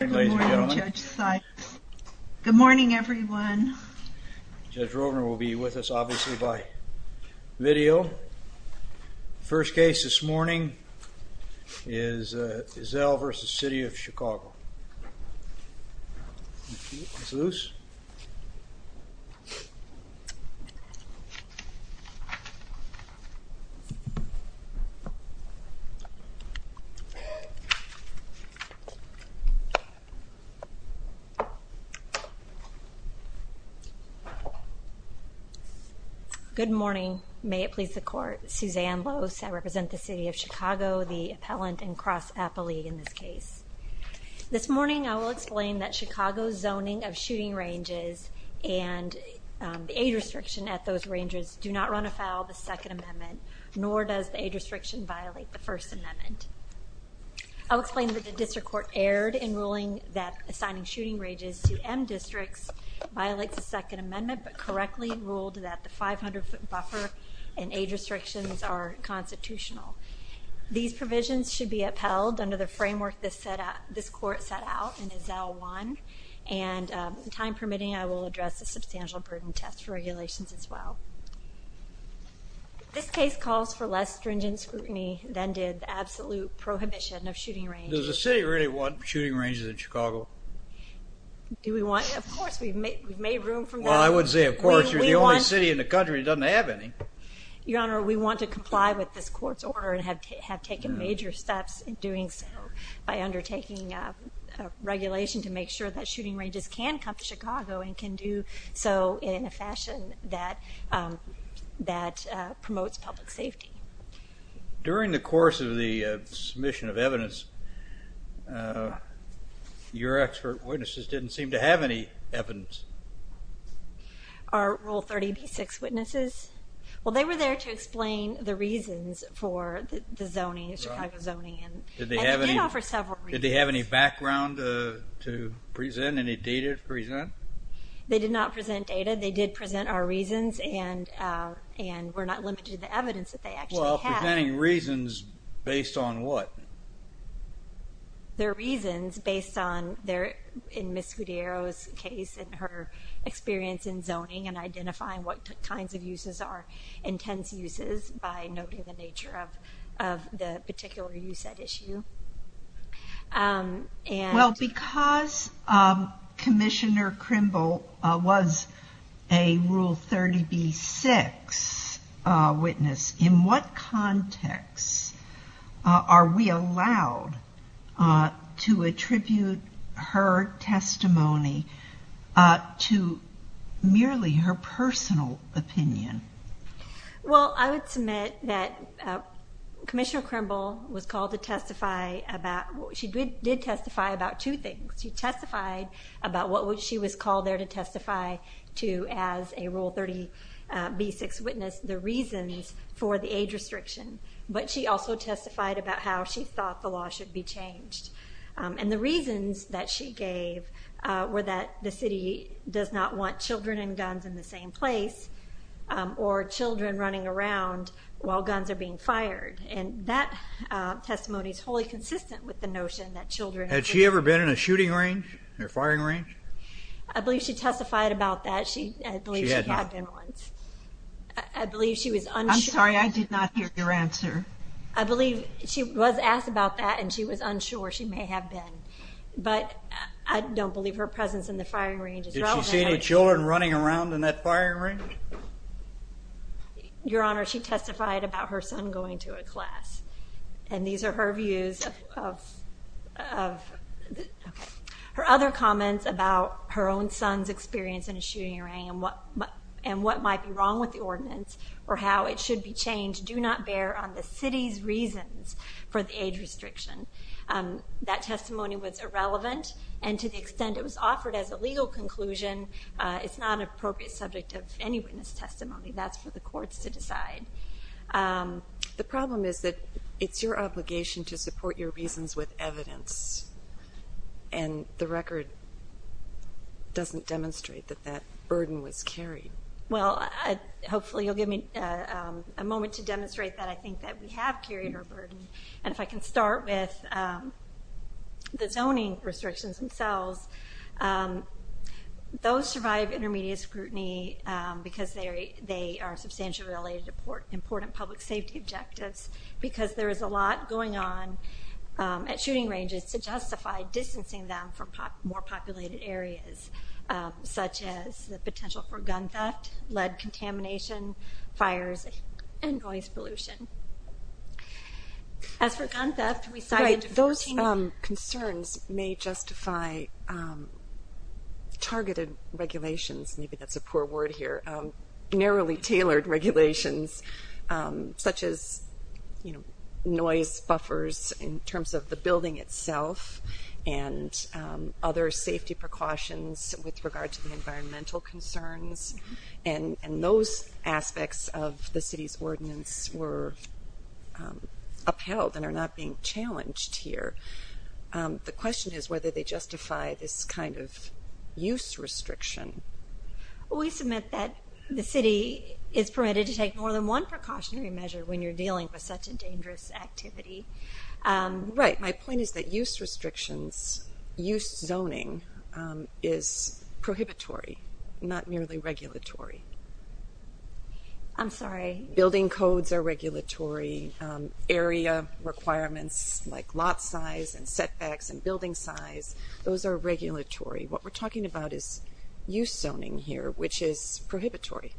Good morning everyone. Judge Rovner will be with us obviously by video. First case this morning is Ezell v. City of Chicago. Good morning. May it please the court. Suzanne Lose. I represent the City of Chicago, the Appellant and Cross Appellee in this case. This morning I will explain that Chicago's zoning of shooting ranges and the age restriction at those ranges do not run afoul of the Second Amendment, nor does the age restriction violate the First Amendment. I will explain that the district court erred in ruling that assigning shooting ranges to M districts violates the Second Amendment, but correctly ruled that the 500 foot buffer and age restrictions are constitutional. These provisions should be upheld under the framework this court set out in Ezell 1, and time permitting I will address the substantial burden test regulations as well. This case calls for less stringent scrutiny than did the absolute prohibition of shooting ranges. Does the city really want shooting ranges in Chicago? Do we want? Of course. We've made room for that. Well I would say of course. You're the only city in the country that doesn't have any. Your Honor, we want to comply with this court's order and have taken major steps in doing so by undertaking regulation to make sure that shooting ranges can come to Chicago and can do so in a fashion that promotes public safety. During the course of the submission of evidence, your expert witnesses didn't seem to have any evidence. Are Rule 30B6 witnesses? Well they were there to explain the reasons for the zoning, the Chicago zoning, and they did offer several reasons. Did they have any background to present? Any data to present? They did not present data. They did present our reasons and were not limited to the evidence that they actually had. Well, presenting reasons based on what? Their reasons based on, in Ms. Scudero's case and her experience in zoning and identifying what kinds of uses are intense uses by noting the nature of the particular use at issue. Well because Commissioner Crimble was a Rule 30B6 witness, in what context are we allowed to attribute her testimony to merely her personal opinion? Well I would submit that Commissioner Crimble did testify about two things. She testified about what she was called there to testify to as a Rule 30B6 witness, the reasons for the age restriction. But she also testified about how she thought the law should be changed. And the reasons that she gave were that the city does not want children and guns in the same place or children running around while guns are being fired. And that testimony is wholly consistent with the notion that children... Had she ever been in a shooting range or firing range? I believe she testified about that. I believe she had been once. She had not. I believe she was unsure... I'm sorry, I did not hear your answer. I believe she was asked about that and she was unsure she may have been. But I don't believe her presence in the firing range is relevant. Did she see any children running around in that firing range? Your Honor, she testified about her son going to a class. And these are her views of... Her other comments about her own son's experience in a shooting range and what might be wrong with the ordinance or how it should be changed do not bear on the city's reasons for the age restriction. That testimony was irrelevant and to the extent it was offered as a legal conclusion, it's not an appropriate subject of any witness testimony. That's for the courts to decide. The problem is that it's your obligation to support your reasons with evidence and the record doesn't demonstrate that that burden was carried. Well, hopefully you'll give me a moment to demonstrate that I think that we have carried our burden. And if I can start with the zoning restrictions themselves, those survive intermediate scrutiny because they are substantially related to important public safety objectives because there is a lot going on at shooting ranges to justify distancing them from more populated areas, such as the potential for gun theft, lead contamination, fires, and noise pollution. As for gun theft... Right, those concerns may justify targeted regulations. Maybe that's a poor word here. Narrowly tailored regulations such as noise buffers in terms of the building itself and other safety precautions with regard to the environmental concerns. And those aspects of the city's ordinance were upheld and are not being challenged here. The question is whether they justify this kind of use restriction. We submit that the city is permitted to take more than one precautionary measure when you're dealing with such a dangerous activity. Right. My point is that use restrictions, use zoning, is prohibitory, not merely regulatory. I'm sorry? Building codes are regulatory. Area requirements like lot size and setbacks and building size, those are regulatory. What we're talking about is use zoning here, which is prohibitory.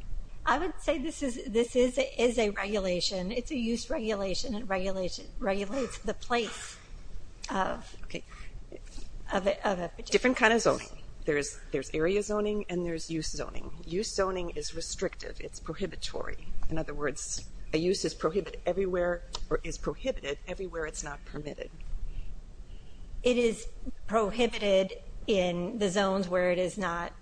I would say this is a regulation. It's a use regulation. It regulates the place of a particular... Different kind of zoning. There's area zoning and there's use zoning. Use zoning is restrictive. It's prohibitory. In other words, a use is prohibited everywhere it's not permitted. It is prohibited in the zones where it is not permitted.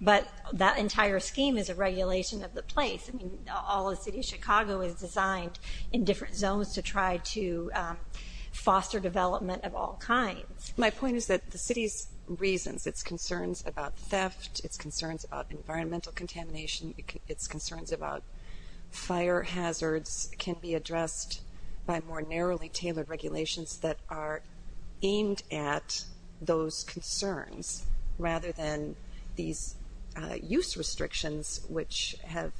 But that entire scheme is a regulation of the place. All of the city of Chicago is designed in different zones to try to foster development of all kinds. My point is that the city's reasons, its concerns about theft, its concerns about environmental contamination, its concerns about fire hazards can be addressed by more narrowly tailored regulations that are aimed at those concerns rather than these use restrictions, which have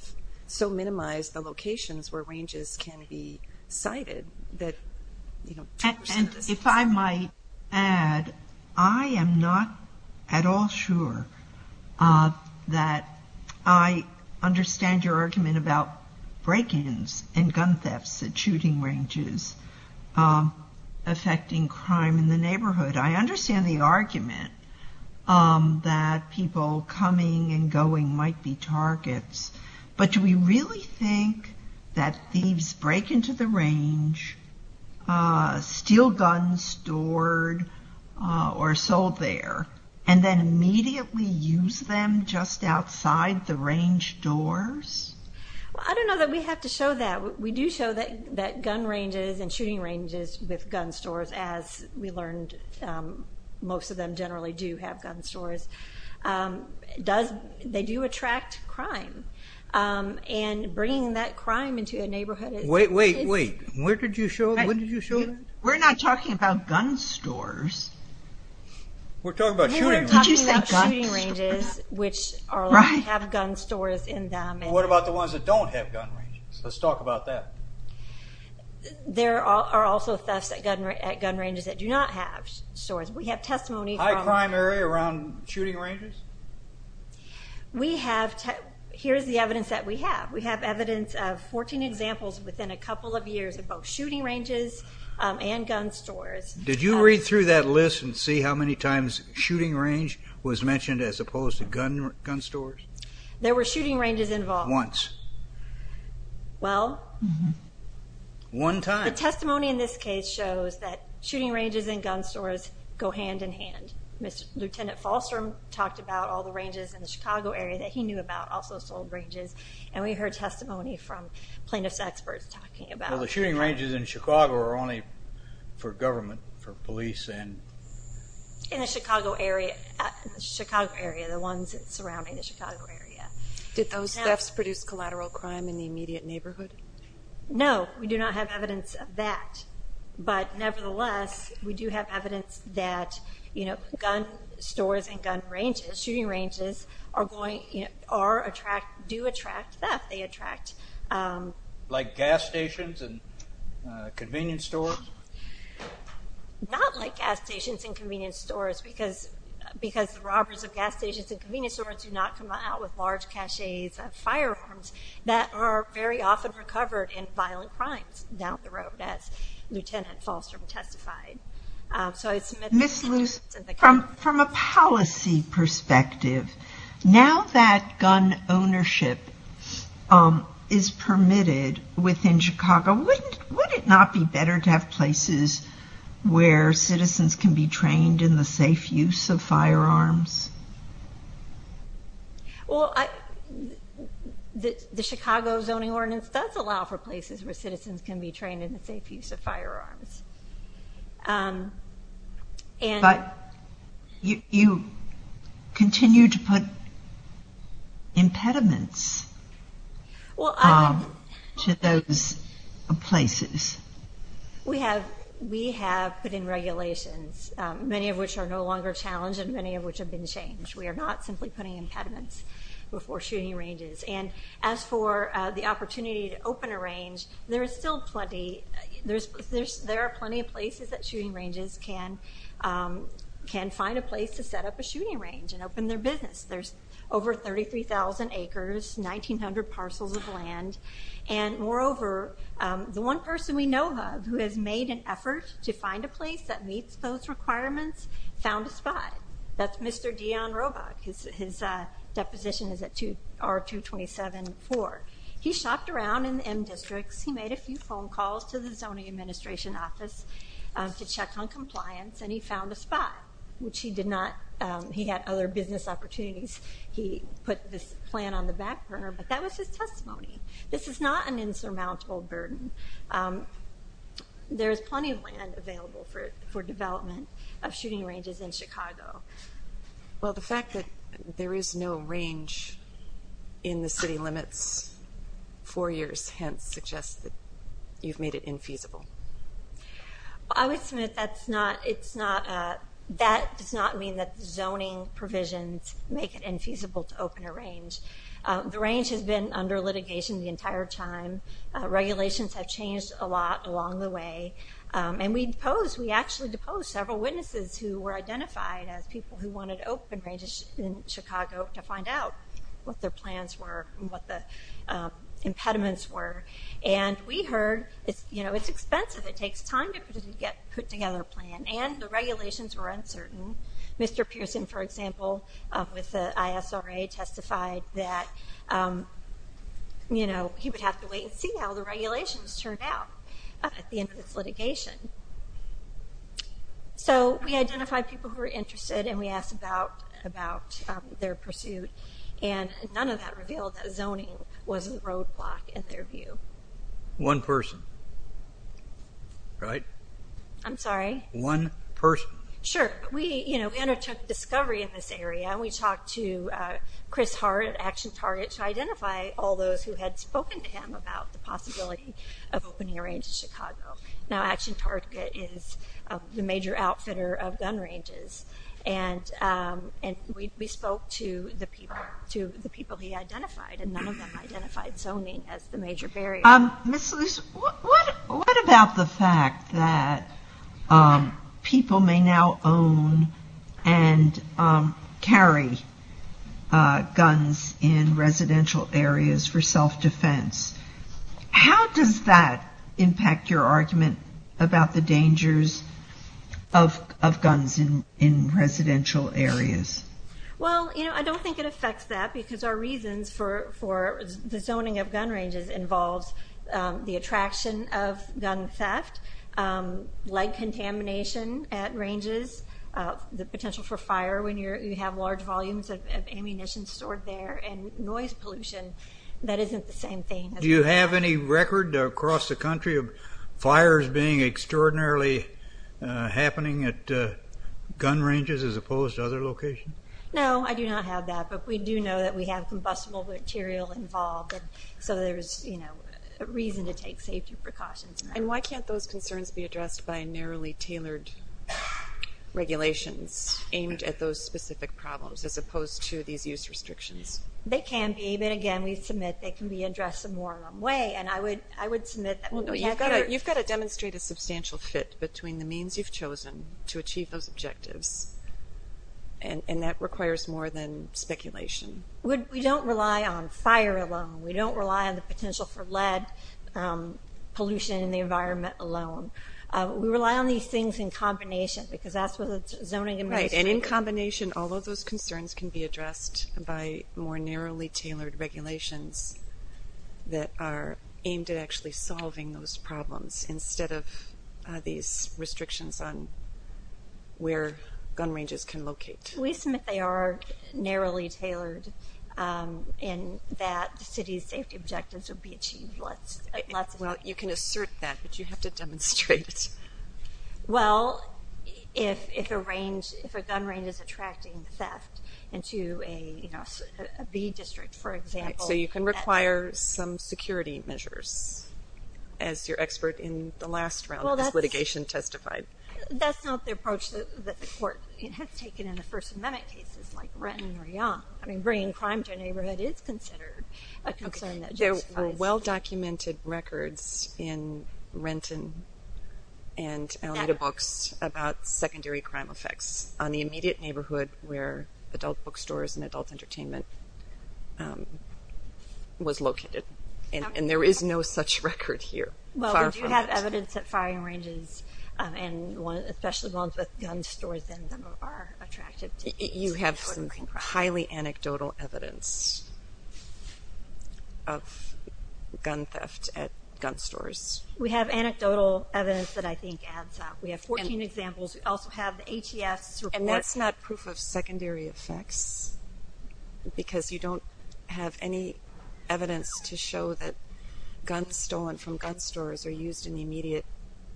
so minimized the locations where ranges can be cited. If I might add, I am not at all sure that I understand your argument about break-ins and gun thefts at shooting ranges affecting crime in the neighborhood. I understand the argument that people coming and going might be targets, but do we really think that thieves break into the range, steal guns stored or sold there, and then immediately use them just outside the range doors? I don't know that we have to show that. We do show that gun ranges and shooting ranges with gun stores, as we learned most of them generally do have gun stores, they do attract crime. And bringing that crime into a neighborhood is... Wait, wait, wait. Where did you show them? When did you show them? We're not talking about gun stores. We're talking about shooting ranges. We're talking about shooting ranges, which have gun stores in them. And what about the ones that don't have gun ranges? Let's talk about that. There are also thefts at gun ranges that do not have stores. We have testimony from... High crime area around shooting ranges? Here's the evidence that we have. We have evidence of 14 examples within a couple of years of both shooting ranges and gun stores. Did you read through that list and see how many times shooting range was mentioned as opposed to gun stores? There were shooting ranges involved. Once. Well... One time. The testimony in this case shows that shooting ranges and gun stores go hand in hand. Lieutenant Falstrom talked about all the ranges in the Chicago area that he knew about, also sold ranges, and we heard testimony from plaintiff's experts talking about... Well, the shooting ranges in Chicago are only for government, for police and... In the Chicago area, the ones surrounding the Chicago area. Did those thefts produce collateral crime in the immediate neighborhood? No. We do not have evidence of that. But nevertheless, we do have evidence that gun stores and gun ranges, shooting ranges, do attract theft. They attract... Like gas stations and convenience stores? Not like gas stations and convenience stores because the robbers of gas stations and convenience stores do not come out with large caches of firearms that are very often recovered in violent crimes down the road, as Lieutenant Falstrom testified. Ms. Luce, from a policy perspective, now that gun ownership is permitted within Chicago, would it not be better to have places where citizens can be trained in the safe use of firearms? Well, the Chicago Zoning Ordinance does allow for places where citizens can be trained in the safe use of firearms. But you continue to put impediments to those places. We have put in regulations, many of which are no longer challenged and many of which have been changed. We are not simply putting impediments before shooting ranges. And as for the opportunity to open a range, there are still plenty... There are plenty of places that shooting ranges can find a place to set up a shooting range and open their business. There's over 33,000 acres, 1,900 parcels of land. And moreover, the one person we know of who has made an effort to find a place that meets those requirements found a spot. That's Mr. Dion Robach. His deposition is at R-227-4. He shopped around in the M districts. He made a few phone calls to the Zoning Administration office to check on compliance, and he found a spot, which he did not... He had other business opportunities. He put this plan on the back burner, but that was his testimony. This is not an insurmountable burden. There is plenty of land available for development of shooting ranges in Chicago. Well, the fact that there is no range in the city limits for years hence suggests that you've made it infeasible. I would submit that does not mean that zoning provisions make it infeasible to open a range. The range has been under litigation the entire time. Regulations have changed a lot along the way. And we actually deposed several witnesses who were identified as people who wanted open ranges in Chicago to find out what their plans were and what the impediments were. And we heard, you know, it's expensive. It takes time to put together a plan, and the regulations were uncertain. Mr. Pearson, for example, with the ISRA, testified that, you know, he would have to wait and see how the regulations turned out at the end of this litigation. So we identified people who were interested, and we asked about their pursuit. And none of that revealed that zoning was a roadblock in their view. One person, right? I'm sorry? One person. Sure. We, you know, undertook discovery in this area, and we talked to Chris Hart at Action Target to identify all those who had spoken to him about the possibility of opening a range in Chicago. Now, Action Target is the major outfitter of gun ranges, and we spoke to the people he identified, and none of them identified zoning as the major barrier. Ms. Luce, what about the fact that people may now own and carry guns in residential areas for self-defense? How does that impact your argument about the dangers of guns in residential areas? Well, you know, I don't think it affects that, because our reasons for the zoning of gun ranges involves the attraction of gun theft, light contamination at ranges, the potential for fire when you have large volumes of ammunition stored there, and noise pollution that isn't the same thing. Do you have any record across the country of fires being extraordinarily happening at gun ranges as opposed to other locations? No, I do not have that. But we do know that we have combustible material involved, so there's a reason to take safety precautions. And why can't those concerns be addressed by narrowly tailored regulations aimed at those specific problems as opposed to these use restrictions? They can be, but again, we submit they can be addressed some more along the way, and I would submit that we have to. You've got to demonstrate a substantial fit between the means you've chosen to achieve those objectives, and that requires more than speculation. We don't rely on fire alone. We don't rely on the potential for lead pollution in the environment alone. We rely on these things in combination, because that's where the zoning administration Right, and in combination, all of those concerns can be addressed by more narrowly tailored regulations that are aimed at actually solving those problems instead of these restrictions on where gun ranges can locate. We submit they are narrowly tailored, and that the city's safety objectives would be achieved. Well, you can assert that, but you have to demonstrate it. Well, if a gun range is attracting theft into a B district, for example. Right, so you can require some security measures, as your expert in the last round of this litigation testified. That's not the approach that the court has taken in the First Amendment cases, like Renton or Yonge. I mean, bringing crime to a neighborhood is considered a concern that justifies. There were well-documented records in Renton and Alameda books about secondary crime effects on the immediate neighborhood where adult bookstores and adult entertainment was located. And there is no such record here, far from it. Well, we do have evidence that firing ranges, and especially ones with gun stores in them, are attractive to us. You have some highly anecdotal evidence of gun theft at gun stores. We have anecdotal evidence that I think adds up. We have 14 examples. We also have the HES report. And that's not proof of secondary effects, because you don't have any evidence to show that guns stolen from gun stores are used in the immediate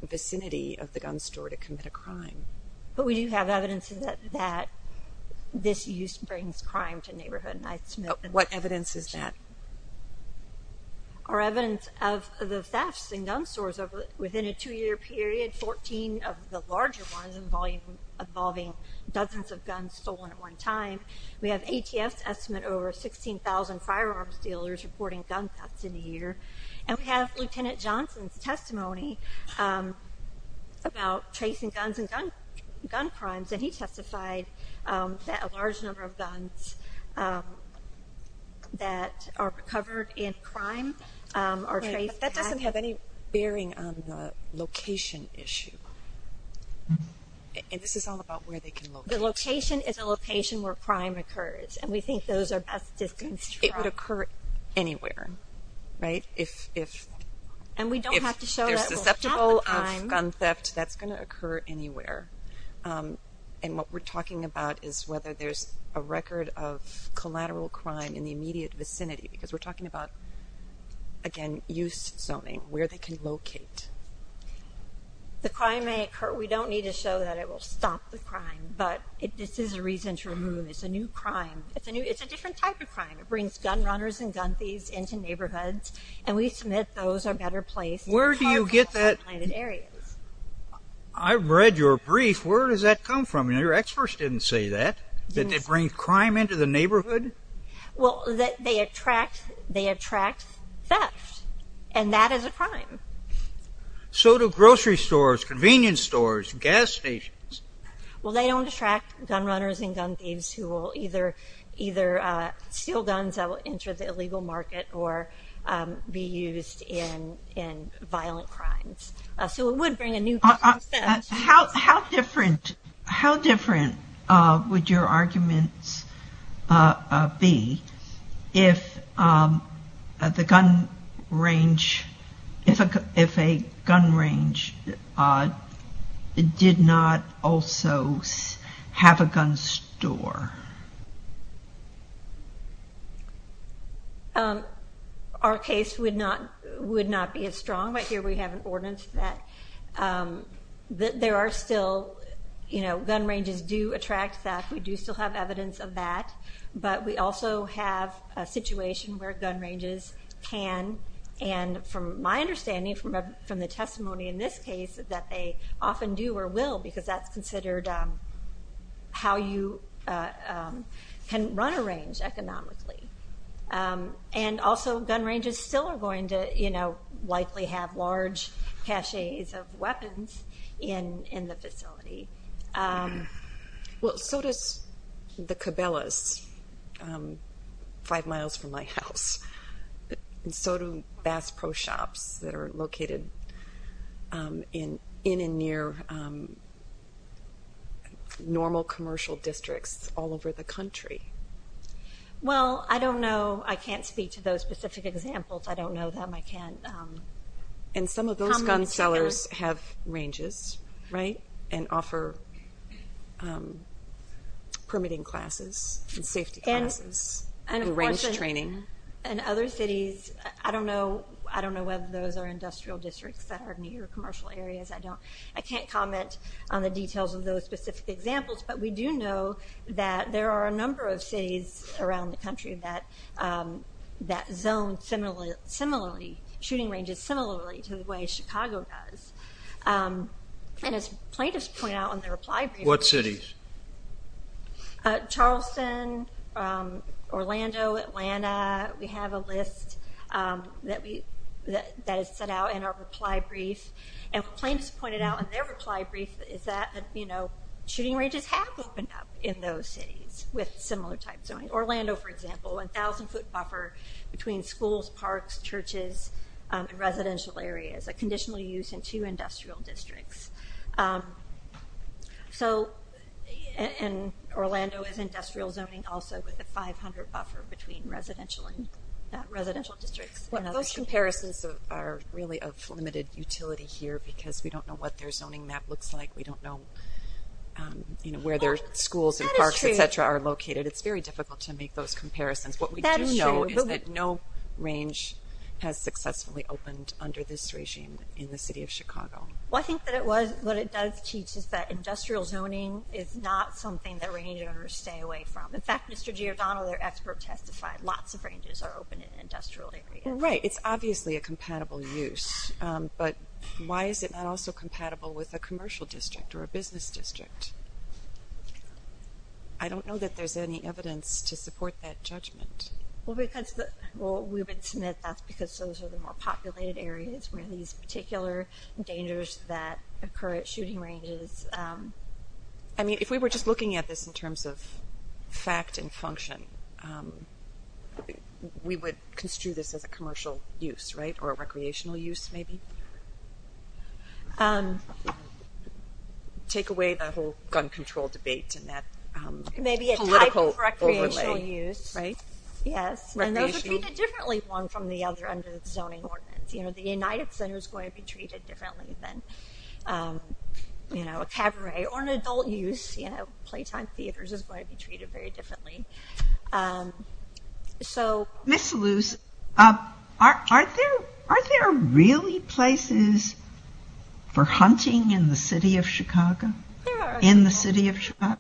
vicinity of the gun store to commit a crime. But we do have evidence that this use brings crime to neighborhoods. What evidence is that? Our evidence of the thefts in gun stores within a two-year period, 14 of the larger ones involving dozens of guns stolen at one time. We have ATF's estimate over 16,000 firearms dealers reporting gun thefts in a year. And we have Lieutenant Johnson's testimony about tracing guns and gun crimes, and he testified that a large number of guns that are covered in crime are traced. That doesn't have any bearing on the location issue. And this is all about where they can locate. The location is a location where crime occurs, and we think those are best distanced from. It would occur anywhere, right? If they're susceptible of gun theft, that's going to occur anywhere. And what we're talking about is whether there's a record of collateral crime in the immediate vicinity, because we're talking about, again, use zoning, where they can locate. The crime may occur. We don't need to show that it will stop the crime. But this is a reason to remove. It's a new crime. It's a different type of crime. It brings gun runners and gun thieves into neighborhoods, and we submit those are better placed. Where do you get that? I read your brief. Where does that come from? Your experts didn't say that, that they bring crime into the neighborhood. Well, they attract theft, and that is a crime. So do grocery stores, convenience stores, gas stations. Well, they don't attract gun runners and gun thieves who will either steal guns that will enter the illegal market or be used in violent crimes. So it would bring a new type of theft. How different would your arguments be if a gun range did not also have a gun store? Our case would not be as strong. Right here we have an ordinance that there are still, you know, gun ranges do attract theft. We do still have evidence of that. But we also have a situation where gun ranges can, and from my understanding, from the testimony in this case, that they often do or will, because that's considered how you can run a range economically. And also gun ranges still are going to, you know, likely have large caches of weapons in the facility. Well, so does the Cabela's five miles from my house, and so do Bass Pro Shops that are located in and near normal commercial districts all over the country. Well, I don't know. I can't speak to those specific examples. I don't know them. I can't comment. And some of those gun sellers have ranges, right, and offer permitting classes and safety classes and range training. And other cities, I don't know whether those are industrial districts that are near commercial areas. I can't comment on the details of those specific examples. But we do know that there are a number of cities around the country that zone similarly, shooting ranges similarly to the way Chicago does. And as plaintiffs point out in their reply briefs. What cities? Charleston, Orlando, Atlanta. We have a list that is set out in our reply brief. And what plaintiffs pointed out in their reply brief is that, you know, ranges have opened up in those cities with similar type zoning. Orlando, for example, 1,000-foot buffer between schools, parks, churches, and residential areas, a conditional use in two industrial districts. And Orlando is industrial zoning also with a 500 buffer between residential districts. Those comparisons are really of limited utility here because we don't know what their zoning map looks like. We don't know where their schools and parks, et cetera, are located. It's very difficult to make those comparisons. What we do know is that no range has successfully opened under this regime in the city of Chicago. Well, I think what it does teach is that industrial zoning is not something that range owners stay away from. In fact, Mr. Giordano, their expert, testified lots of ranges are open in industrial areas. Right. It's obviously a compatible use. But why is it not also compatible with a commercial district or a business district? I don't know that there's any evidence to support that judgment. Well, we would submit that's because those are the more populated areas where these particular dangers that occur at shooting ranges. I mean, if we were just looking at this in terms of fact and function, we would construe this as a commercial use, right, or a recreational use maybe. Take away the whole gun control debate and that political overlay. Maybe a type of recreational use. Right. Yes. And those are treated differently one from the other under the zoning ordinance. You know, the United Center is going to be treated differently than, you know, a cabaret or an adult use. You know, playtime theaters is going to be treated very differently. So... Ms. Luce, are there really places for hunting in the city of Chicago? There are a couple. In the city of Chicago?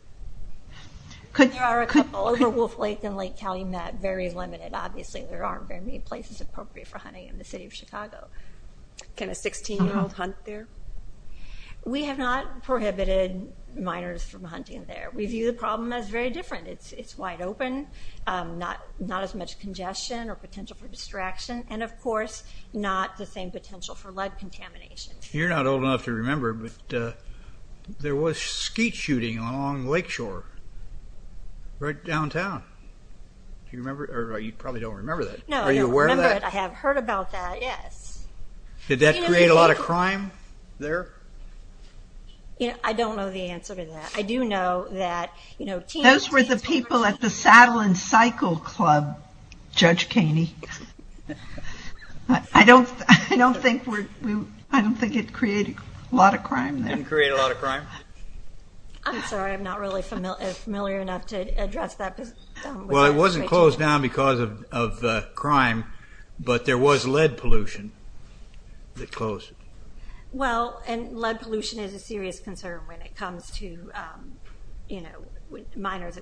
There are a couple. Over Wolf Lake and Lake County are very limited, obviously. There aren't very many places appropriate for hunting in the city of Chicago. Can a 16-year-old hunt there? We have not prohibited minors from hunting there. We view the problem as very different. It's wide open, not as much congestion or potential for distraction, and, of course, not the same potential for lead contamination. You're not old enough to remember, but there was skeet shooting along Lakeshore, right downtown. Do you remember? Or you probably don't remember that. No, I don't remember it. Are you aware of that? I have heard about that, yes. Did that create a lot of crime there? I don't know the answer to that. Those were the people at the Saddle and Cycle Club, Judge Caney. I don't think it created a lot of crime there. It didn't create a lot of crime? I'm sorry. I'm not really familiar enough to address that. Well, it wasn't closed down because of crime, but there was lead pollution that closed it. Well, and lead pollution is a serious concern when it comes to miners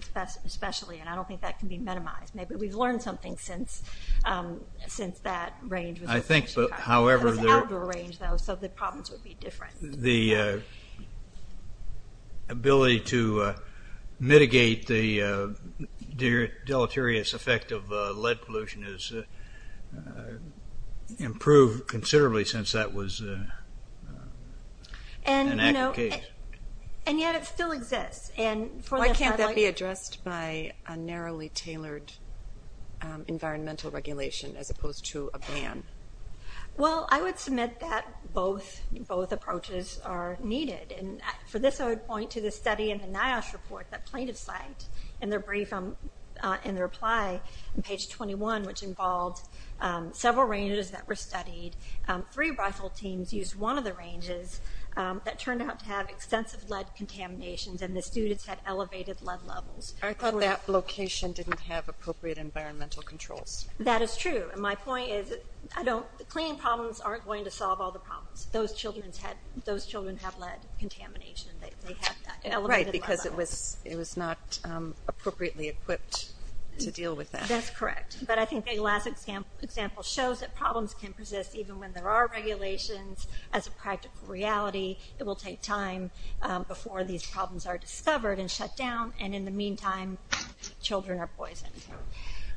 especially, and I don't think that can be minimized. Maybe we've learned something since that range. I think, however, the ability to mitigate the deleterious effect of lead pollution has improved considerably since that was an aggregate. And yet it still exists. Why can't that be addressed by a narrowly tailored environmental regulation as opposed to a ban? Well, I would submit that both approaches are needed. And for this I would point to the study in the NIOSH report, that plaintiff's site, in their brief in their reply on page 21, which involved several ranges that were studied. Three rifle teams used one of the ranges that turned out to have extensive lead contaminations and the students had elevated lead levels. I thought that location didn't have appropriate environmental controls. That is true. And my point is cleaning problems aren't going to solve all the problems. Those children have lead contamination. Right, because it was not appropriately equipped to deal with that. That's correct. But I think the last example shows that problems can persist even when there are regulations as a practical reality. It will take time before these problems are discovered and shut down, and in the meantime children are poisoned.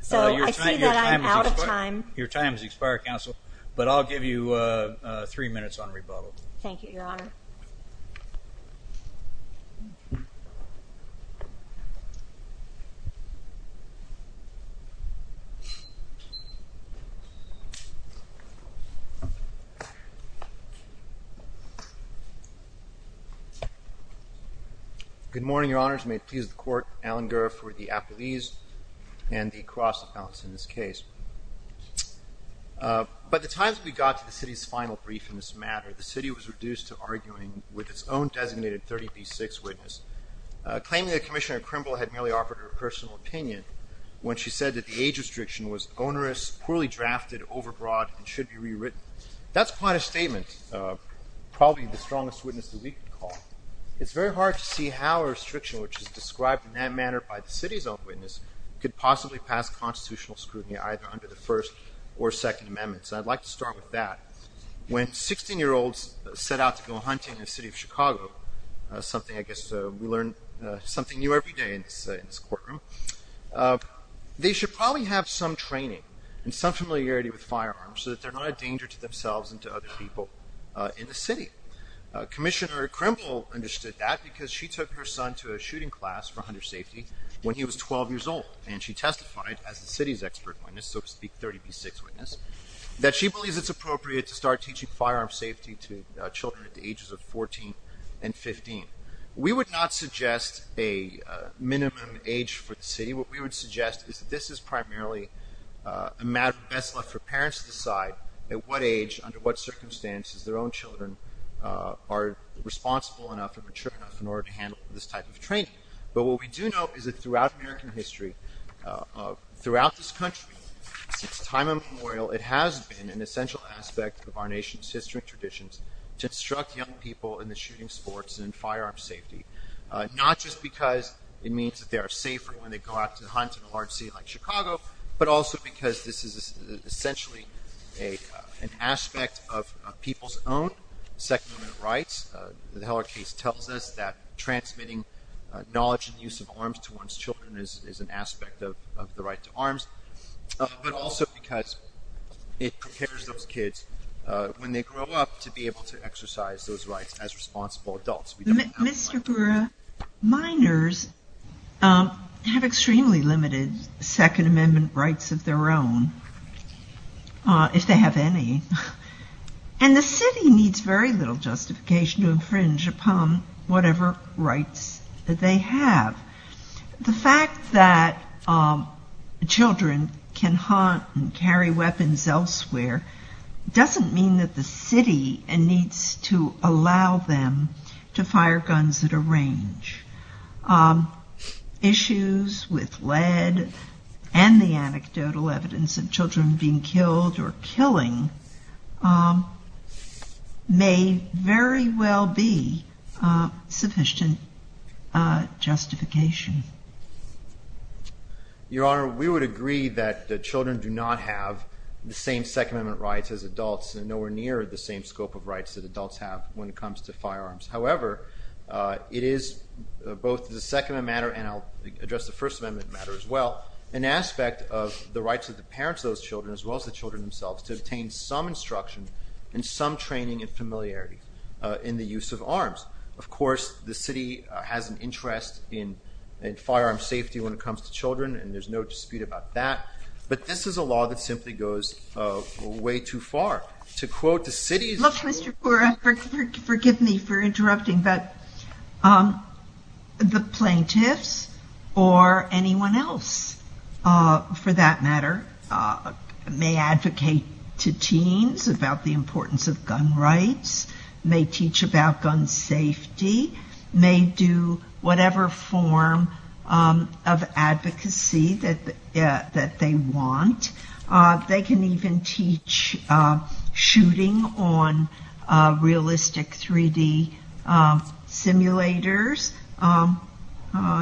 So I see that I'm out of time. Your time has expired, Counsel, but I'll give you three minutes on rebuttal. Thank you, Your Honor. Good morning, Your Honors. May it please the Court. Alan Guerra for the appellees and the cross accounts in this case. By the time that we got to the city's final brief in this matter, the city was reduced to arguing with its own designated 30B6 witness, claiming that Commissioner Krimble had merely offered her personal opinion when she said that the age restriction was onerous, poorly drafted, overbroad, and should be rewritten. That's quite a statement, probably the strongest witness that we could call. It's very hard to see how a restriction which is described in that manner by the city's own witness could possibly pass constitutional scrutiny either under the First or Second Amendments. I'd like to start with that. When 16-year-olds set out to go hunting in the city of Chicago, something I guess we learn something new every day in this courtroom, they should probably have some training and some familiarity with firearms so that they're not a danger to themselves and to other people in the city. Commissioner Krimble understood that because she took her son to a shooting class for hunter safety when he was 12 years old, that she believes it's appropriate to start teaching firearms safety to children at the ages of 14 and 15. We would not suggest a minimum age for the city. What we would suggest is that this is primarily a matter best left for parents to decide at what age, under what circumstances, their own children are responsible enough and mature enough in order to handle this type of training. But what we do know is that throughout American history, throughout this country, since time immemorial, it has been an essential aspect of our nation's history and traditions to instruct young people in the shooting sports and firearm safety, not just because it means that they are safer when they go out to hunt in a large city like Chicago, but also because this is essentially an aspect of people's own Second Amendment rights. The Heller case tells us that transmitting knowledge and use of arms to someone's children is an aspect of the right to arms, but also because it prepares those kids when they grow up to be able to exercise those rights as responsible adults. Minors have extremely limited Second Amendment rights of their own, if they have any. And the city needs very little justification to infringe upon whatever rights that they have. The fact that children can hunt and carry weapons elsewhere doesn't mean that the city needs to allow them to fire guns at a range. Issues with lead and the anecdotal evidence of children being killed or injured are not an important justification. Your Honor, we would agree that children do not have the same Second Amendment rights as adults, and nowhere near the same scope of rights that adults have when it comes to firearms. However, it is both the Second Amendment matter, and I'll address the First Amendment matter as well, an aspect of the rights of the parents of those children as well as the children themselves to obtain some instruction and some training and familiarity in the use of arms. Of course, the city has an interest in firearm safety when it comes to children, and there's no dispute about that. But this is a law that simply goes way too far. To quote the city's... Look, Mr. Poore, forgive me for interrupting, but the plaintiffs or anyone else, for that matter, may advocate to teens about the importance of gun rights, may teach about gun safety, may do whatever form of advocacy that they want. They can even teach shooting on realistic 3D simulators.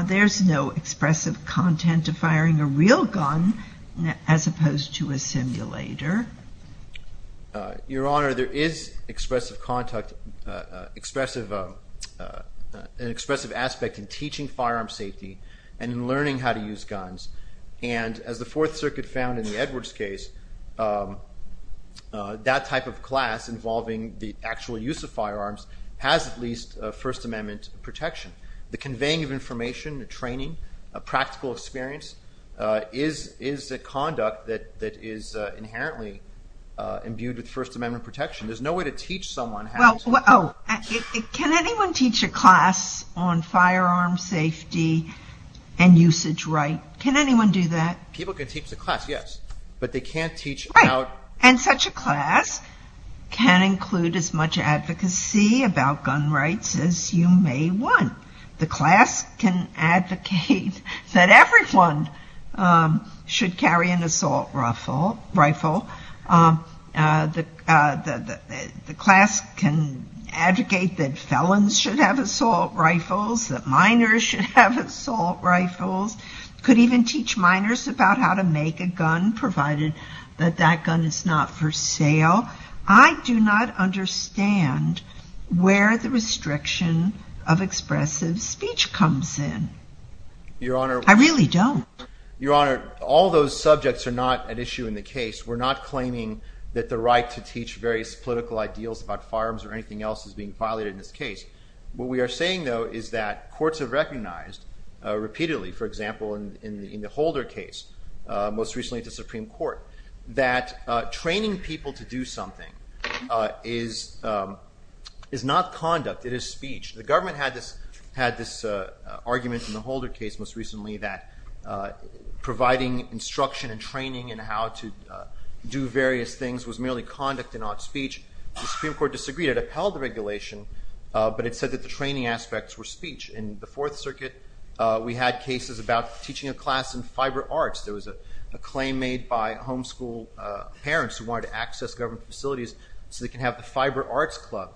There's no expressive content to firing a real gun as opposed to a simulator. Your Honor, there is expressive aspect in teaching firearm safety and in learning how to use guns. And as the Fourth Circuit found in the Edwards case, that type of class involving the actual use of firearms has at least First The conveying of information, the training, a practical experience is a conduct that is inherently imbued with First Amendment protection. There's no way to teach someone how to use a firearm. Can anyone teach a class on firearm safety and usage rights? Can anyone do that? People can teach the class, yes, but they can't teach about... Right. And such a class can include as much advocacy about gun rights as you may want. The class can advocate that everyone should carry an assault rifle. The class can advocate that felons should have assault rifles, that minors should have assault rifles, could even teach minors about how to make a gun provided that that gun is not for sale. I do not understand where the restriction of expressive speech comes in. Your Honor... I really don't. Your Honor, all those subjects are not at issue in the case. We're not claiming that the right to teach various political ideals about firearms or anything else is being violated in this case. What we are saying though is that courts have recognized repeatedly, for example, in the Holder case, most recently at the Supreme Court, that training people to do something is not conduct, it is speech. The government had this argument in the Holder case most recently that providing instruction and training and how to do various things was merely conduct and not speech. The Supreme Court disagreed. It upheld the regulation, but it said that the training aspects were speech. In the Fourth Circuit, we had cases about teaching a class in fiber arts. There was a claim made by homeschool parents who wanted to access government facilities so they can have the fiber arts club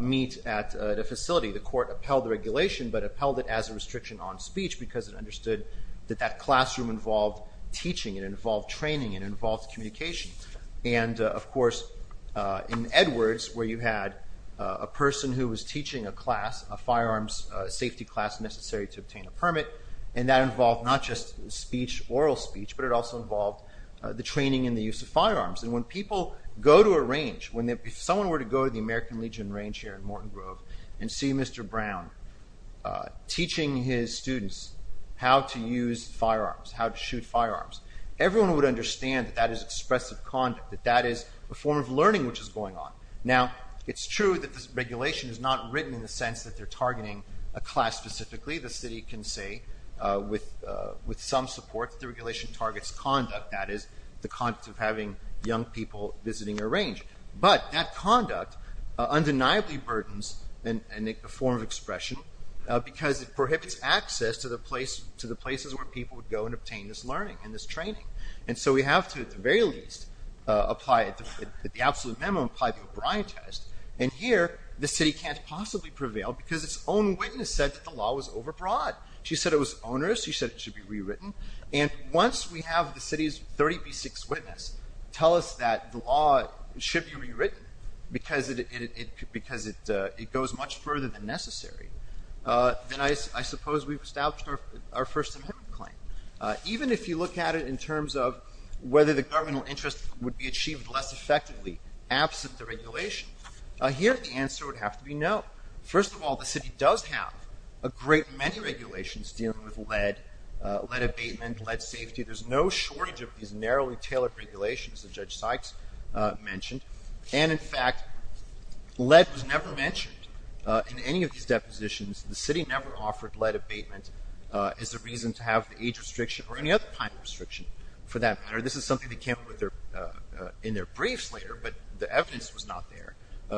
meet at a facility. The court upheld the regulation, but upheld it as a restriction on speech because it understood that that classroom involved teaching and involved training and involved communication. And of course, in Edwards where you had a person who was teaching a class, a firearms safety class necessary to obtain a permit, and that involved not just speech, oral speech, but it also involved the training and the use of firearms. And when people go to a range, when someone were to go to the American Legion range here in Morton Grove and see Mr. Brown teaching his students how to use firearms, how to shoot firearms, everyone would understand that that is expressive conduct, that that is a form of learning which is going on. Now it's true that this regulation is not written in the sense that they're with some support that the regulation targets conduct, that is the conduct of having young people visiting a range. But that conduct undeniably burdens a form of expression because it prohibits access to the places where people would go and obtain this learning and this training. And so we have to, at the very least, at the absolute minimum, apply the O'Brien test. And here the city can't possibly prevail because its own witness said that the test was onerous. He said it should be rewritten. And once we have the city's 30B6 witness tell us that the law should be rewritten because it goes much further than necessary, then I suppose we've established our first amendment claim. Even if you look at it in terms of whether the governmental interest would be achieved less effectively absent the regulation, here the answer would have to be no. First of all, the city does have a great many regulations dealing with lead, lead abatement, lead safety. There's no shortage of these narrowly tailored regulations that Judge Sykes mentioned. And in fact, lead was never mentioned in any of these depositions. The city never offered lead abatement as a reason to have the age restriction or any other kind of restriction for that matter. This is something they came up with in their briefs later, but the evidence was not there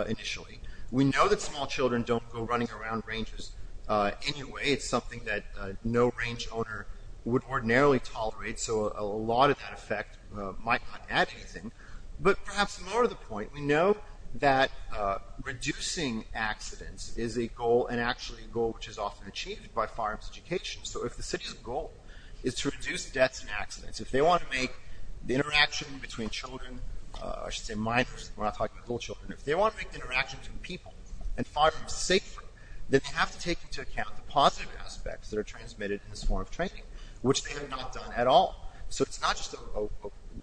initially. We know that small children don't go running around ranges anyway. It's something that no range owner would ordinarily tolerate. So a lot of that effect might not add anything, but perhaps more to the point, we know that reducing accidents is a goal and actually a goal, which is often achieved by firearms education. So if the city's goal is to reduce deaths and accidents, if they want to make the interaction between children, I should say minors, we're not talking about little children. If they want to make the interaction between people and firearms safer, then they have to take into account the positive aspects that are transmitted in this form of training, which they have not done at all. So it's not just a,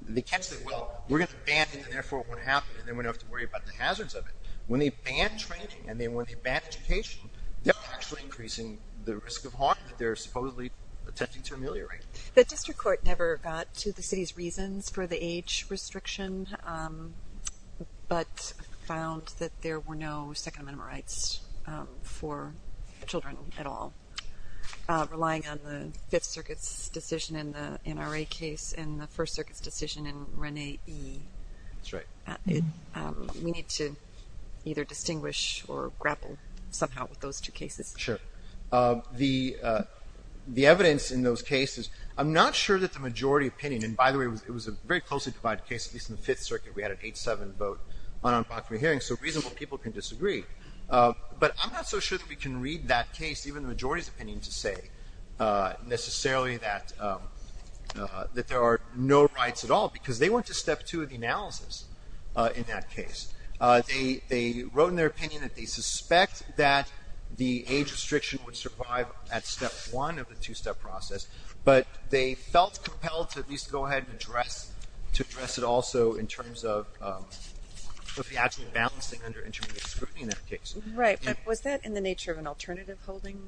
they catch that, well, we're going to ban it and therefore it won't happen. And then we don't have to worry about the hazards of it. When they ban training and then when they ban education, they're actually increasing the risk of harm that they're supposedly attempting to ameliorate. The district court never got to the city's reasons for the age restriction, but found that there were no second amendment rights for children at all. Relying on the Fifth Circuit's decision in the NRA case and the First Circuit's decision in Rene E. That's right. We need to either distinguish or grapple somehow with those two cases. Sure. The evidence in those cases, I'm not sure that the majority opinion, and by the way, it was a very closely divided case, at least in the Fifth Circuit. We had an 8-7 vote on a proximity hearing, so reasonable people can disagree. But I'm not so sure that we can read that case, even the majority's opinion, to say necessarily that there are no rights at all because they went to step two of the analysis in that case. They wrote in their opinion that they suspect that the age restriction would survive at step one of the two-step process, but they felt compelled to at least go ahead and address it also in terms of the actual balancing under intermediate scrutiny in that case. Right. But was that in the nature of an alternative holding?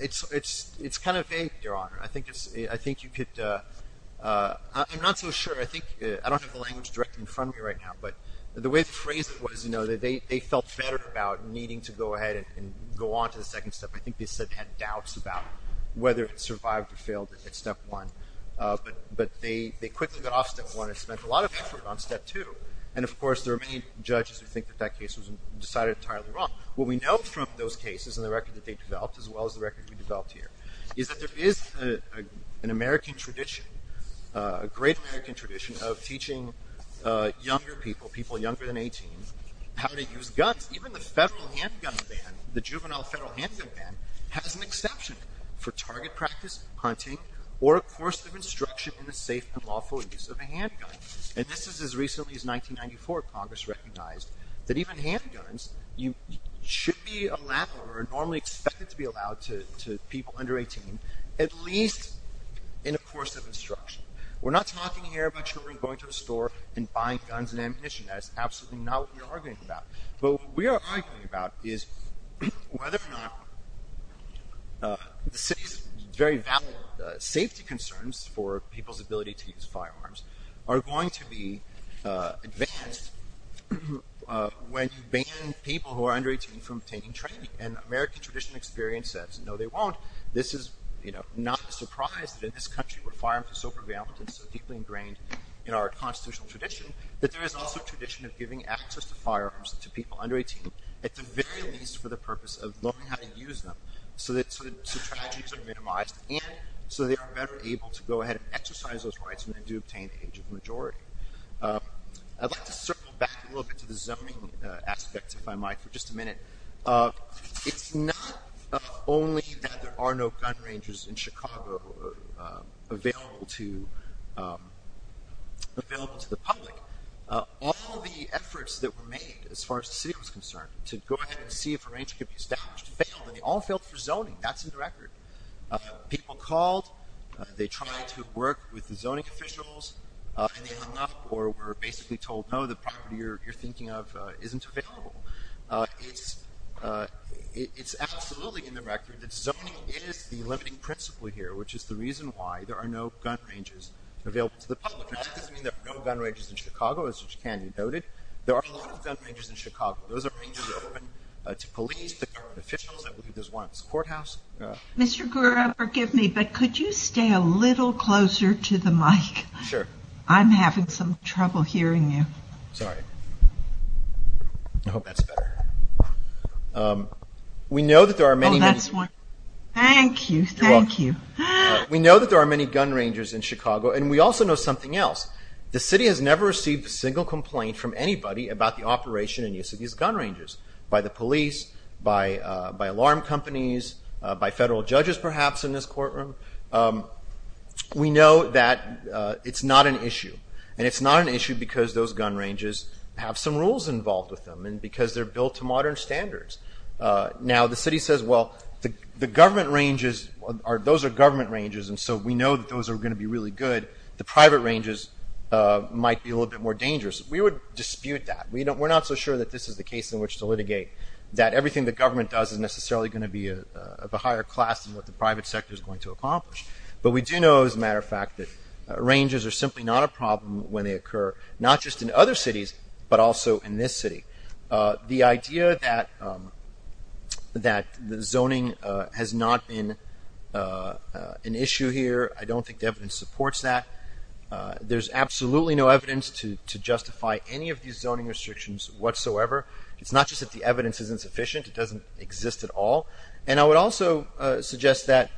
It's kind of vague, Your Honor. I think you could – I'm not so sure. I think – I don't have the language directly in front of me right now, but the way the phrase was, you know, that they felt better about needing to go ahead and go on to the second step. I think they said they had doubts about whether it survived or failed at step one, but they quickly got off step one and spent a lot of effort on step two. And, of course, there are many judges who think that that case was decided entirely wrong. What we know from those cases and the record that they developed, as well as the record we developed here, is that there is an American tradition, a great American tradition, of teaching younger people, people younger than 18, how to use guns. Even the federal handgun ban, the juvenile federal handgun ban, has an exception for target practice, hunting, or a course of instruction in the safe and lawful use of a handgun. And this is as recently as 1994. Congress recognized that even handguns should be allowed or are normally expected to be allowed to people under 18, at least in a course of instruction. We're not talking here about children going to a store and buying guns and ammunition. That is absolutely not what we are arguing about. But what we are arguing about is whether or not the city's very valid safety concerns for people's ability to use firearms are going to be advanced when you ban people who are under 18 from obtaining training. And American tradition experience says, no, they won't. This is not a surprise that in this country where firearms are so prevalent and so deeply ingrained in our constitutional tradition, that there is also a tradition of giving access to firearms to people under 18, at the very least for the purpose of learning how to use them so tragedies are minimized and so they are better able to go ahead and exercise those rights when they do obtain the age of majority. I'd like to circle back a little bit to the zoning aspect, if I might, for just a minute. It's not only that there are no gun ranges in Chicago available to the public. All the efforts that were made, as far as the city was concerned, to go ahead and see if a range could be established, failed. And they all failed for zoning. That's in the record. People called. They tried to work with the zoning officials. And they hung up or were basically told, no, the property you're thinking of isn't available. It's absolutely in the record that zoning is the limiting principle here, which is the reason why there are no gun ranges available to the public. Now, that doesn't mean there are no gun ranges in Chicago, as you noted. There are a lot of gun ranges in Chicago. Those are ranges open to police, to government officials. I believe there's one at this courthouse. Mr. Gura, forgive me, but could you stay a little closer to the mic? Sure. I'm having some trouble hearing you. Sorry. I hope that's better. Oh, that's one. Thank you. Thank you. You're welcome. We know that there are many gun ranges in Chicago, and we also know something else. The city has never received a single complaint from anybody about the operation and use of these gun ranges by the police, by alarm companies, by federal judges perhaps in this courtroom. We know that it's not an issue, and it's not an issue because those gun ranges have some rules involved with them and because they're built to modern standards. Now, the city says, well, the government ranges, those are government ranges, and so we know that those are going to be really good. The private ranges might be a little bit more dangerous. We would dispute that. We're not so sure that this is the case in which to litigate, that everything the government does is necessarily going to be of a higher class than what the private sector is going to accomplish. But we do know, as a matter of fact, that ranges are simply not a problem when they occur, not just in other cities, but also in this city. The idea that zoning has not been an issue here, I don't think the evidence supports that. There's absolutely no evidence to justify any of these zoning restrictions whatsoever. It's not just that the evidence isn't sufficient. It doesn't exist at all. And I would also suggest that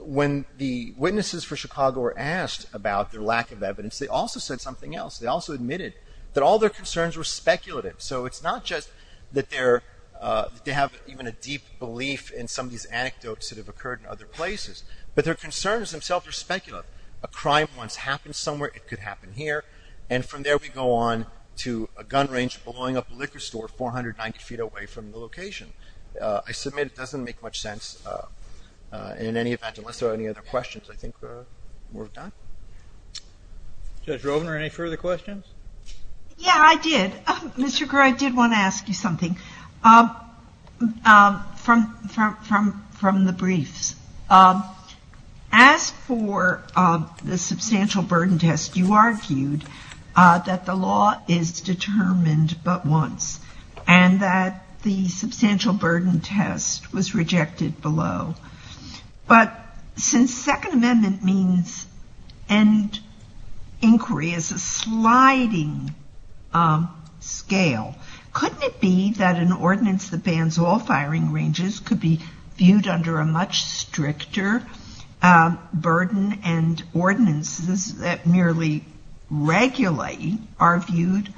when the witnesses for Chicago were asked about their lack of evidence, they also said something else. They also admitted that all their concerns were speculative. So it's not just that they have even a deep belief in some of these anecdotes that have occurred in other places, but their concerns themselves are speculative. A crime once happened somewhere. It could happen here. And from there we go on to a gun range blowing up a liquor store 490 feet away from the location. I submit it doesn't make much sense in any event, unless there are any other questions. I think we're done. Judge Rovner, any further questions? Yeah, I did. Mr. Kerr, I did want to ask you something from the briefs. As for the substantial burden test, you argued that the law is determined but once, and that the substantial burden test was rejected below. But since Second Amendment means end inquiry as a sliding scale, couldn't it be that an ordinance that bans all firing ranges could be viewed under a much stricter burden and ordinances that merely regulate are viewed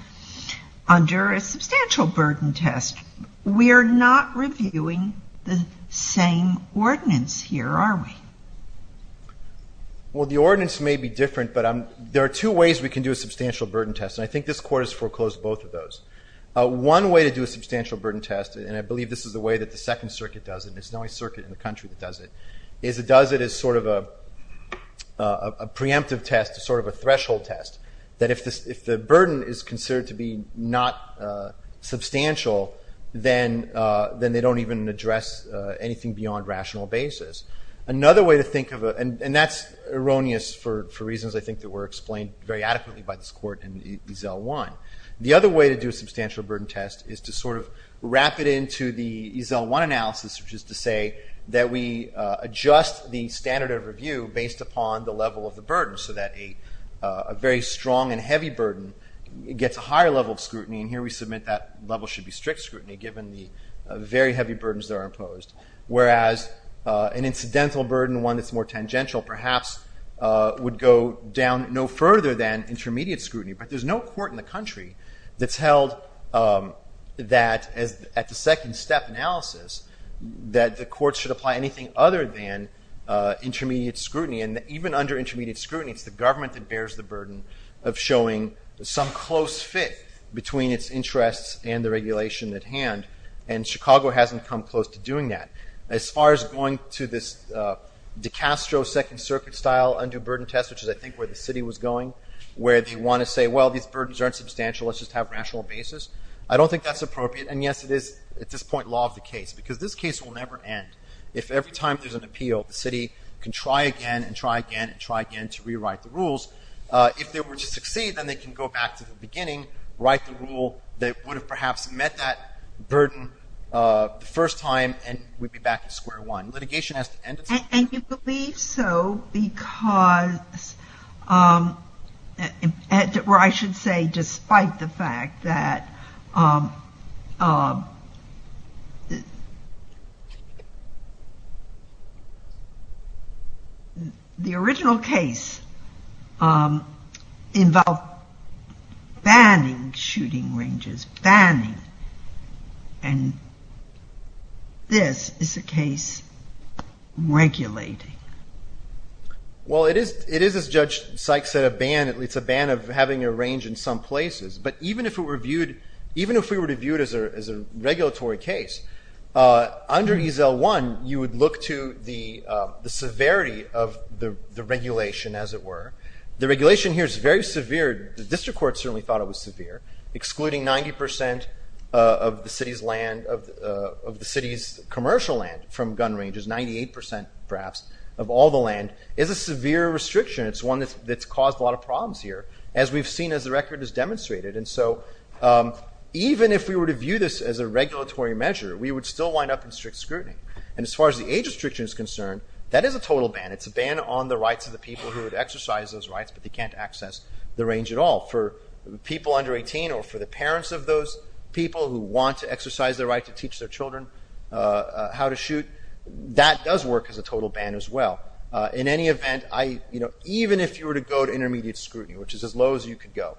under a substantial burden test? We are not reviewing the same ordinance here, are we? Well, the ordinance may be different, but there are two ways we can do a substantial burden test, and I think this Court has foreclosed both of those. One way to do a substantial burden test, and I believe this is the way that the Second Circuit does it, there's no circuit in the country that does it, is it does it as sort of a preemptive test, sort of a threshold test, that if the burden is considered to be not substantial, then they don't even address anything beyond rational basis. Another way to think of it, and that's erroneous for reasons I think that were explained very adequately by this Court in Ezel 1, the other way to do a substantial burden test is to sort of wrap it into the Ezel 1 analysis, which is to say that we adjust the standard of review based upon the level of the burden, so that a very strong and heavy burden gets a higher level of scrutiny, and here we submit that level should be strict scrutiny given the very heavy burdens that are imposed, whereas an incidental burden, one that's more tangential perhaps, would go down no further than intermediate scrutiny. But there's no court in the country that's held that at the second step analysis that the courts should apply anything other than intermediate scrutiny, and even under intermediate scrutiny it's the government that bears the burden of showing some close fit between its interests and the regulation at hand, and Chicago hasn't come close to doing that. As far as going to this DiCastro second circuit style undue burden test, which is I think where the city was going, where they want to say, well these burdens aren't substantial, let's just have rational basis, I don't think that's appropriate, and yes it is at this point law of the case, because this case will never end. If every time there's an appeal the city can try again and try again and try again to rewrite the rules, if they were to succeed then they can go back to the beginning, write the rule that would have perhaps met that burden the first time, and we'd be back to square one. Litigation has to end at some point. And you believe so because, or I should say despite the fact that the original case involved banning shooting ranges, and this is a case regulating. Well it is, as Judge Sykes said, a ban, it's a ban of having a range in some places, but even if it were viewed, even if we were to view it as a regulatory case, under EZL1 you would look to the severity of the regulation as it were. The regulation here is very severe, the district court certainly thought it was severe, excluding 90% of the city's land, of the city's commercial land from gun ranges, 98% perhaps of all the land is a severe restriction. It's one that's caused a lot of problems here, as we've seen as the record has demonstrated. And so even if we were to view this as a regulatory measure, we would still wind up in strict scrutiny. And as far as the age restriction is concerned, that is a total ban. It's a ban on the rights of the people who would exercise those rights, but they can't access the range at all. For people under 18 or for the parents of those people who want to exercise their right to teach their children how to shoot, that does work as a total ban as well. In any event, even if you were to go to intermediate scrutiny, which is as low as you could go,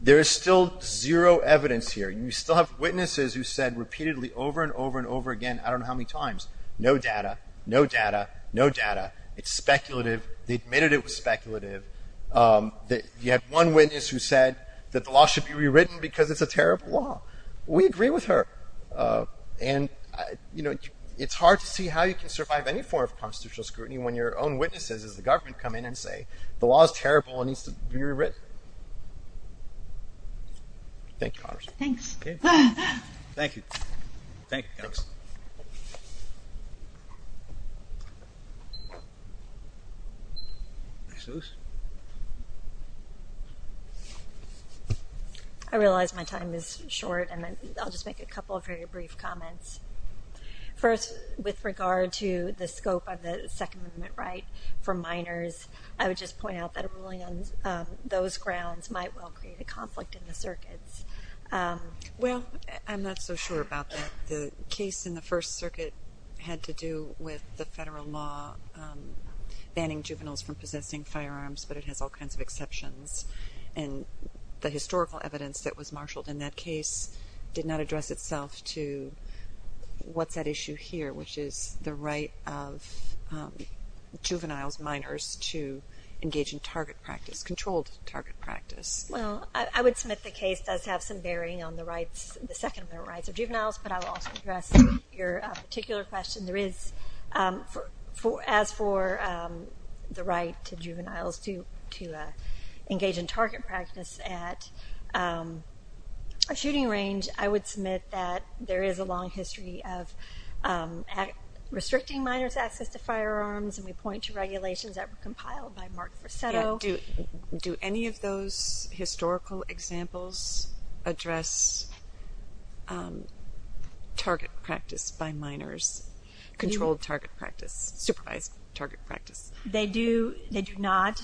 there is still zero evidence here. You still have witnesses who said repeatedly over and over and over again, I don't know how many times, no data, no data, no data, it's speculative, they admitted it was speculative. You had one witness who said that the law should be rewritten because it's a terrible law. We agree with her. And, you know, it's hard to see how you can survive any form of constitutional scrutiny when your own witnesses as the government come in and say the law is terrible and needs to be rewritten. Thank you, Congresswoman. Thanks. Thank you. Thank you. I realize my time is short, and I'll just make a couple of very brief comments. First, with regard to the scope of the Second Amendment right for minors, I would just point out that a ruling on those grounds might well create a conflict in the circuits. Well, I'm not so sure about that. The case in the First Circuit had to do with the federal law banning juveniles from possessing firearms, but it has all kinds of exceptions. And the historical evidence that was marshaled in that case did not address itself to what's at issue here, which is the right of juveniles, minors, to engage in target practice, controlled target practice. Well, I would submit the case does have some bearing on the Second Amendment rights of juveniles, but I will also address your particular question. There is, as for the right to juveniles to engage in target practice at a shooting range, I would submit that there is a long history of restricting minors' access to firearms, and we point to regulations that were compiled by Mark Fresetto. Do any of those historical examples address target practice by minors, controlled target practice, supervised target practice? They do not.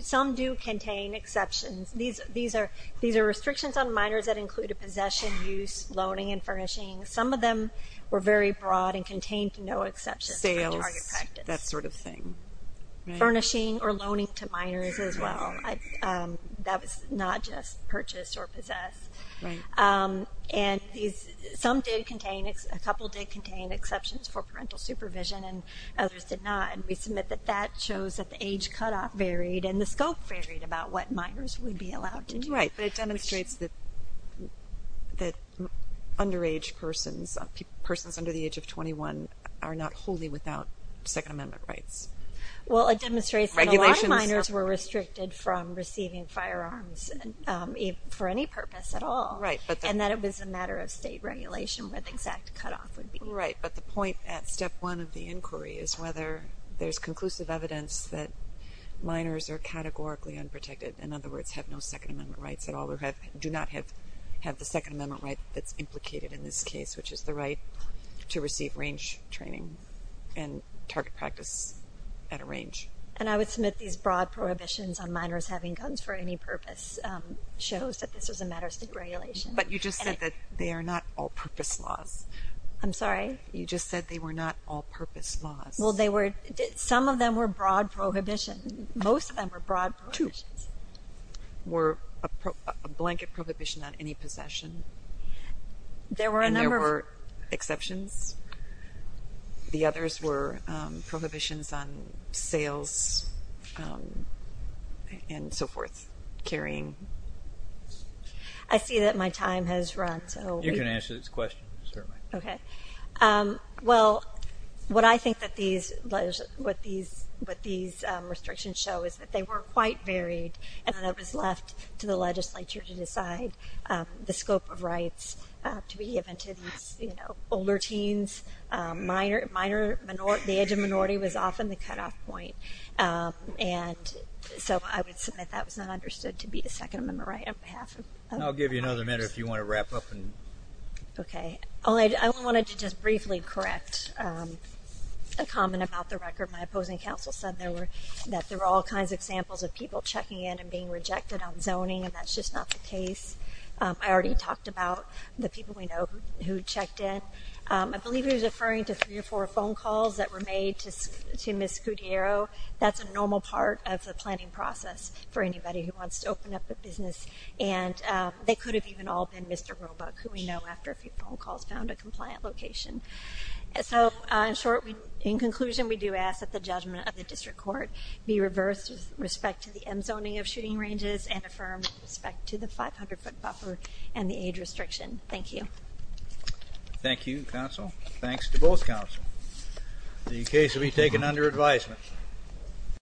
Some do contain exceptions. These are restrictions on minors that include a possession, use, loaning, and furnishing. Some of them were very broad and contained no exceptions for target practice. Sales, that sort of thing. Furnishing or loaning to minors as well. That was not just purchase or possess. And some did contain, a couple did contain exceptions for parental supervision and others did not, and we submit that that shows that the age cutoff varied and the scope varied about what minors would be allowed to do. Right, but it demonstrates that underage persons, persons under the age of 21, are not wholly without Second Amendment rights. Well, it demonstrates that a lot of minors were restricted from receiving firearms for any purpose at all, and that it was a matter of state regulation where the exact cutoff would be. Right, but the point at step one of the inquiry is whether there's conclusive evidence that minors are categorically unprotected, in other words, have no Second Amendment rights at all, do not have the Second Amendment right that's implicated in this case, which is the right to receive range training and target practice at a range. And I would submit these broad prohibitions on minors having guns for any purpose shows that this was a matter of state regulation. But you just said that they are not all-purpose laws. I'm sorry? You just said they were not all-purpose laws. Well, some of them were broad prohibition. Most of them were broad prohibitions. Two were a blanket prohibition on any possession. And there were exceptions. The others were prohibitions on sales and so forth, carrying. I see that my time has run. You can answer this question, certainly. Okay. Well, what I think that these restrictions show is that they were quite varied, and then it was left to the legislature to decide the scope of rights to be given to these older teens. The age of minority was often the cutoff point. And so I would submit that was not understood to be a Second Amendment right on behalf of minors. I'll give you another minute if you want to wrap up. Okay. I wanted to just briefly correct a comment about the record. My opposing counsel said that there were all kinds of examples of people checking in and being rejected on zoning, and that's just not the case. I already talked about the people we know who checked in. I believe he was referring to three or four phone calls that were made to Ms. Scudero. That's a normal part of the planning process for anybody who wants to open up a business, and they could have even all been Mr. Roebuck, who we know, after a few phone calls, found a compliant location. So in conclusion, we do ask that the judgment of the district court be reversed with respect to the M zoning of shooting ranges and affirmed with respect to the 500-foot buffer and the age restriction. Thank you. Thank you, counsel. Thanks to both counsel. The case will be taken under advisement.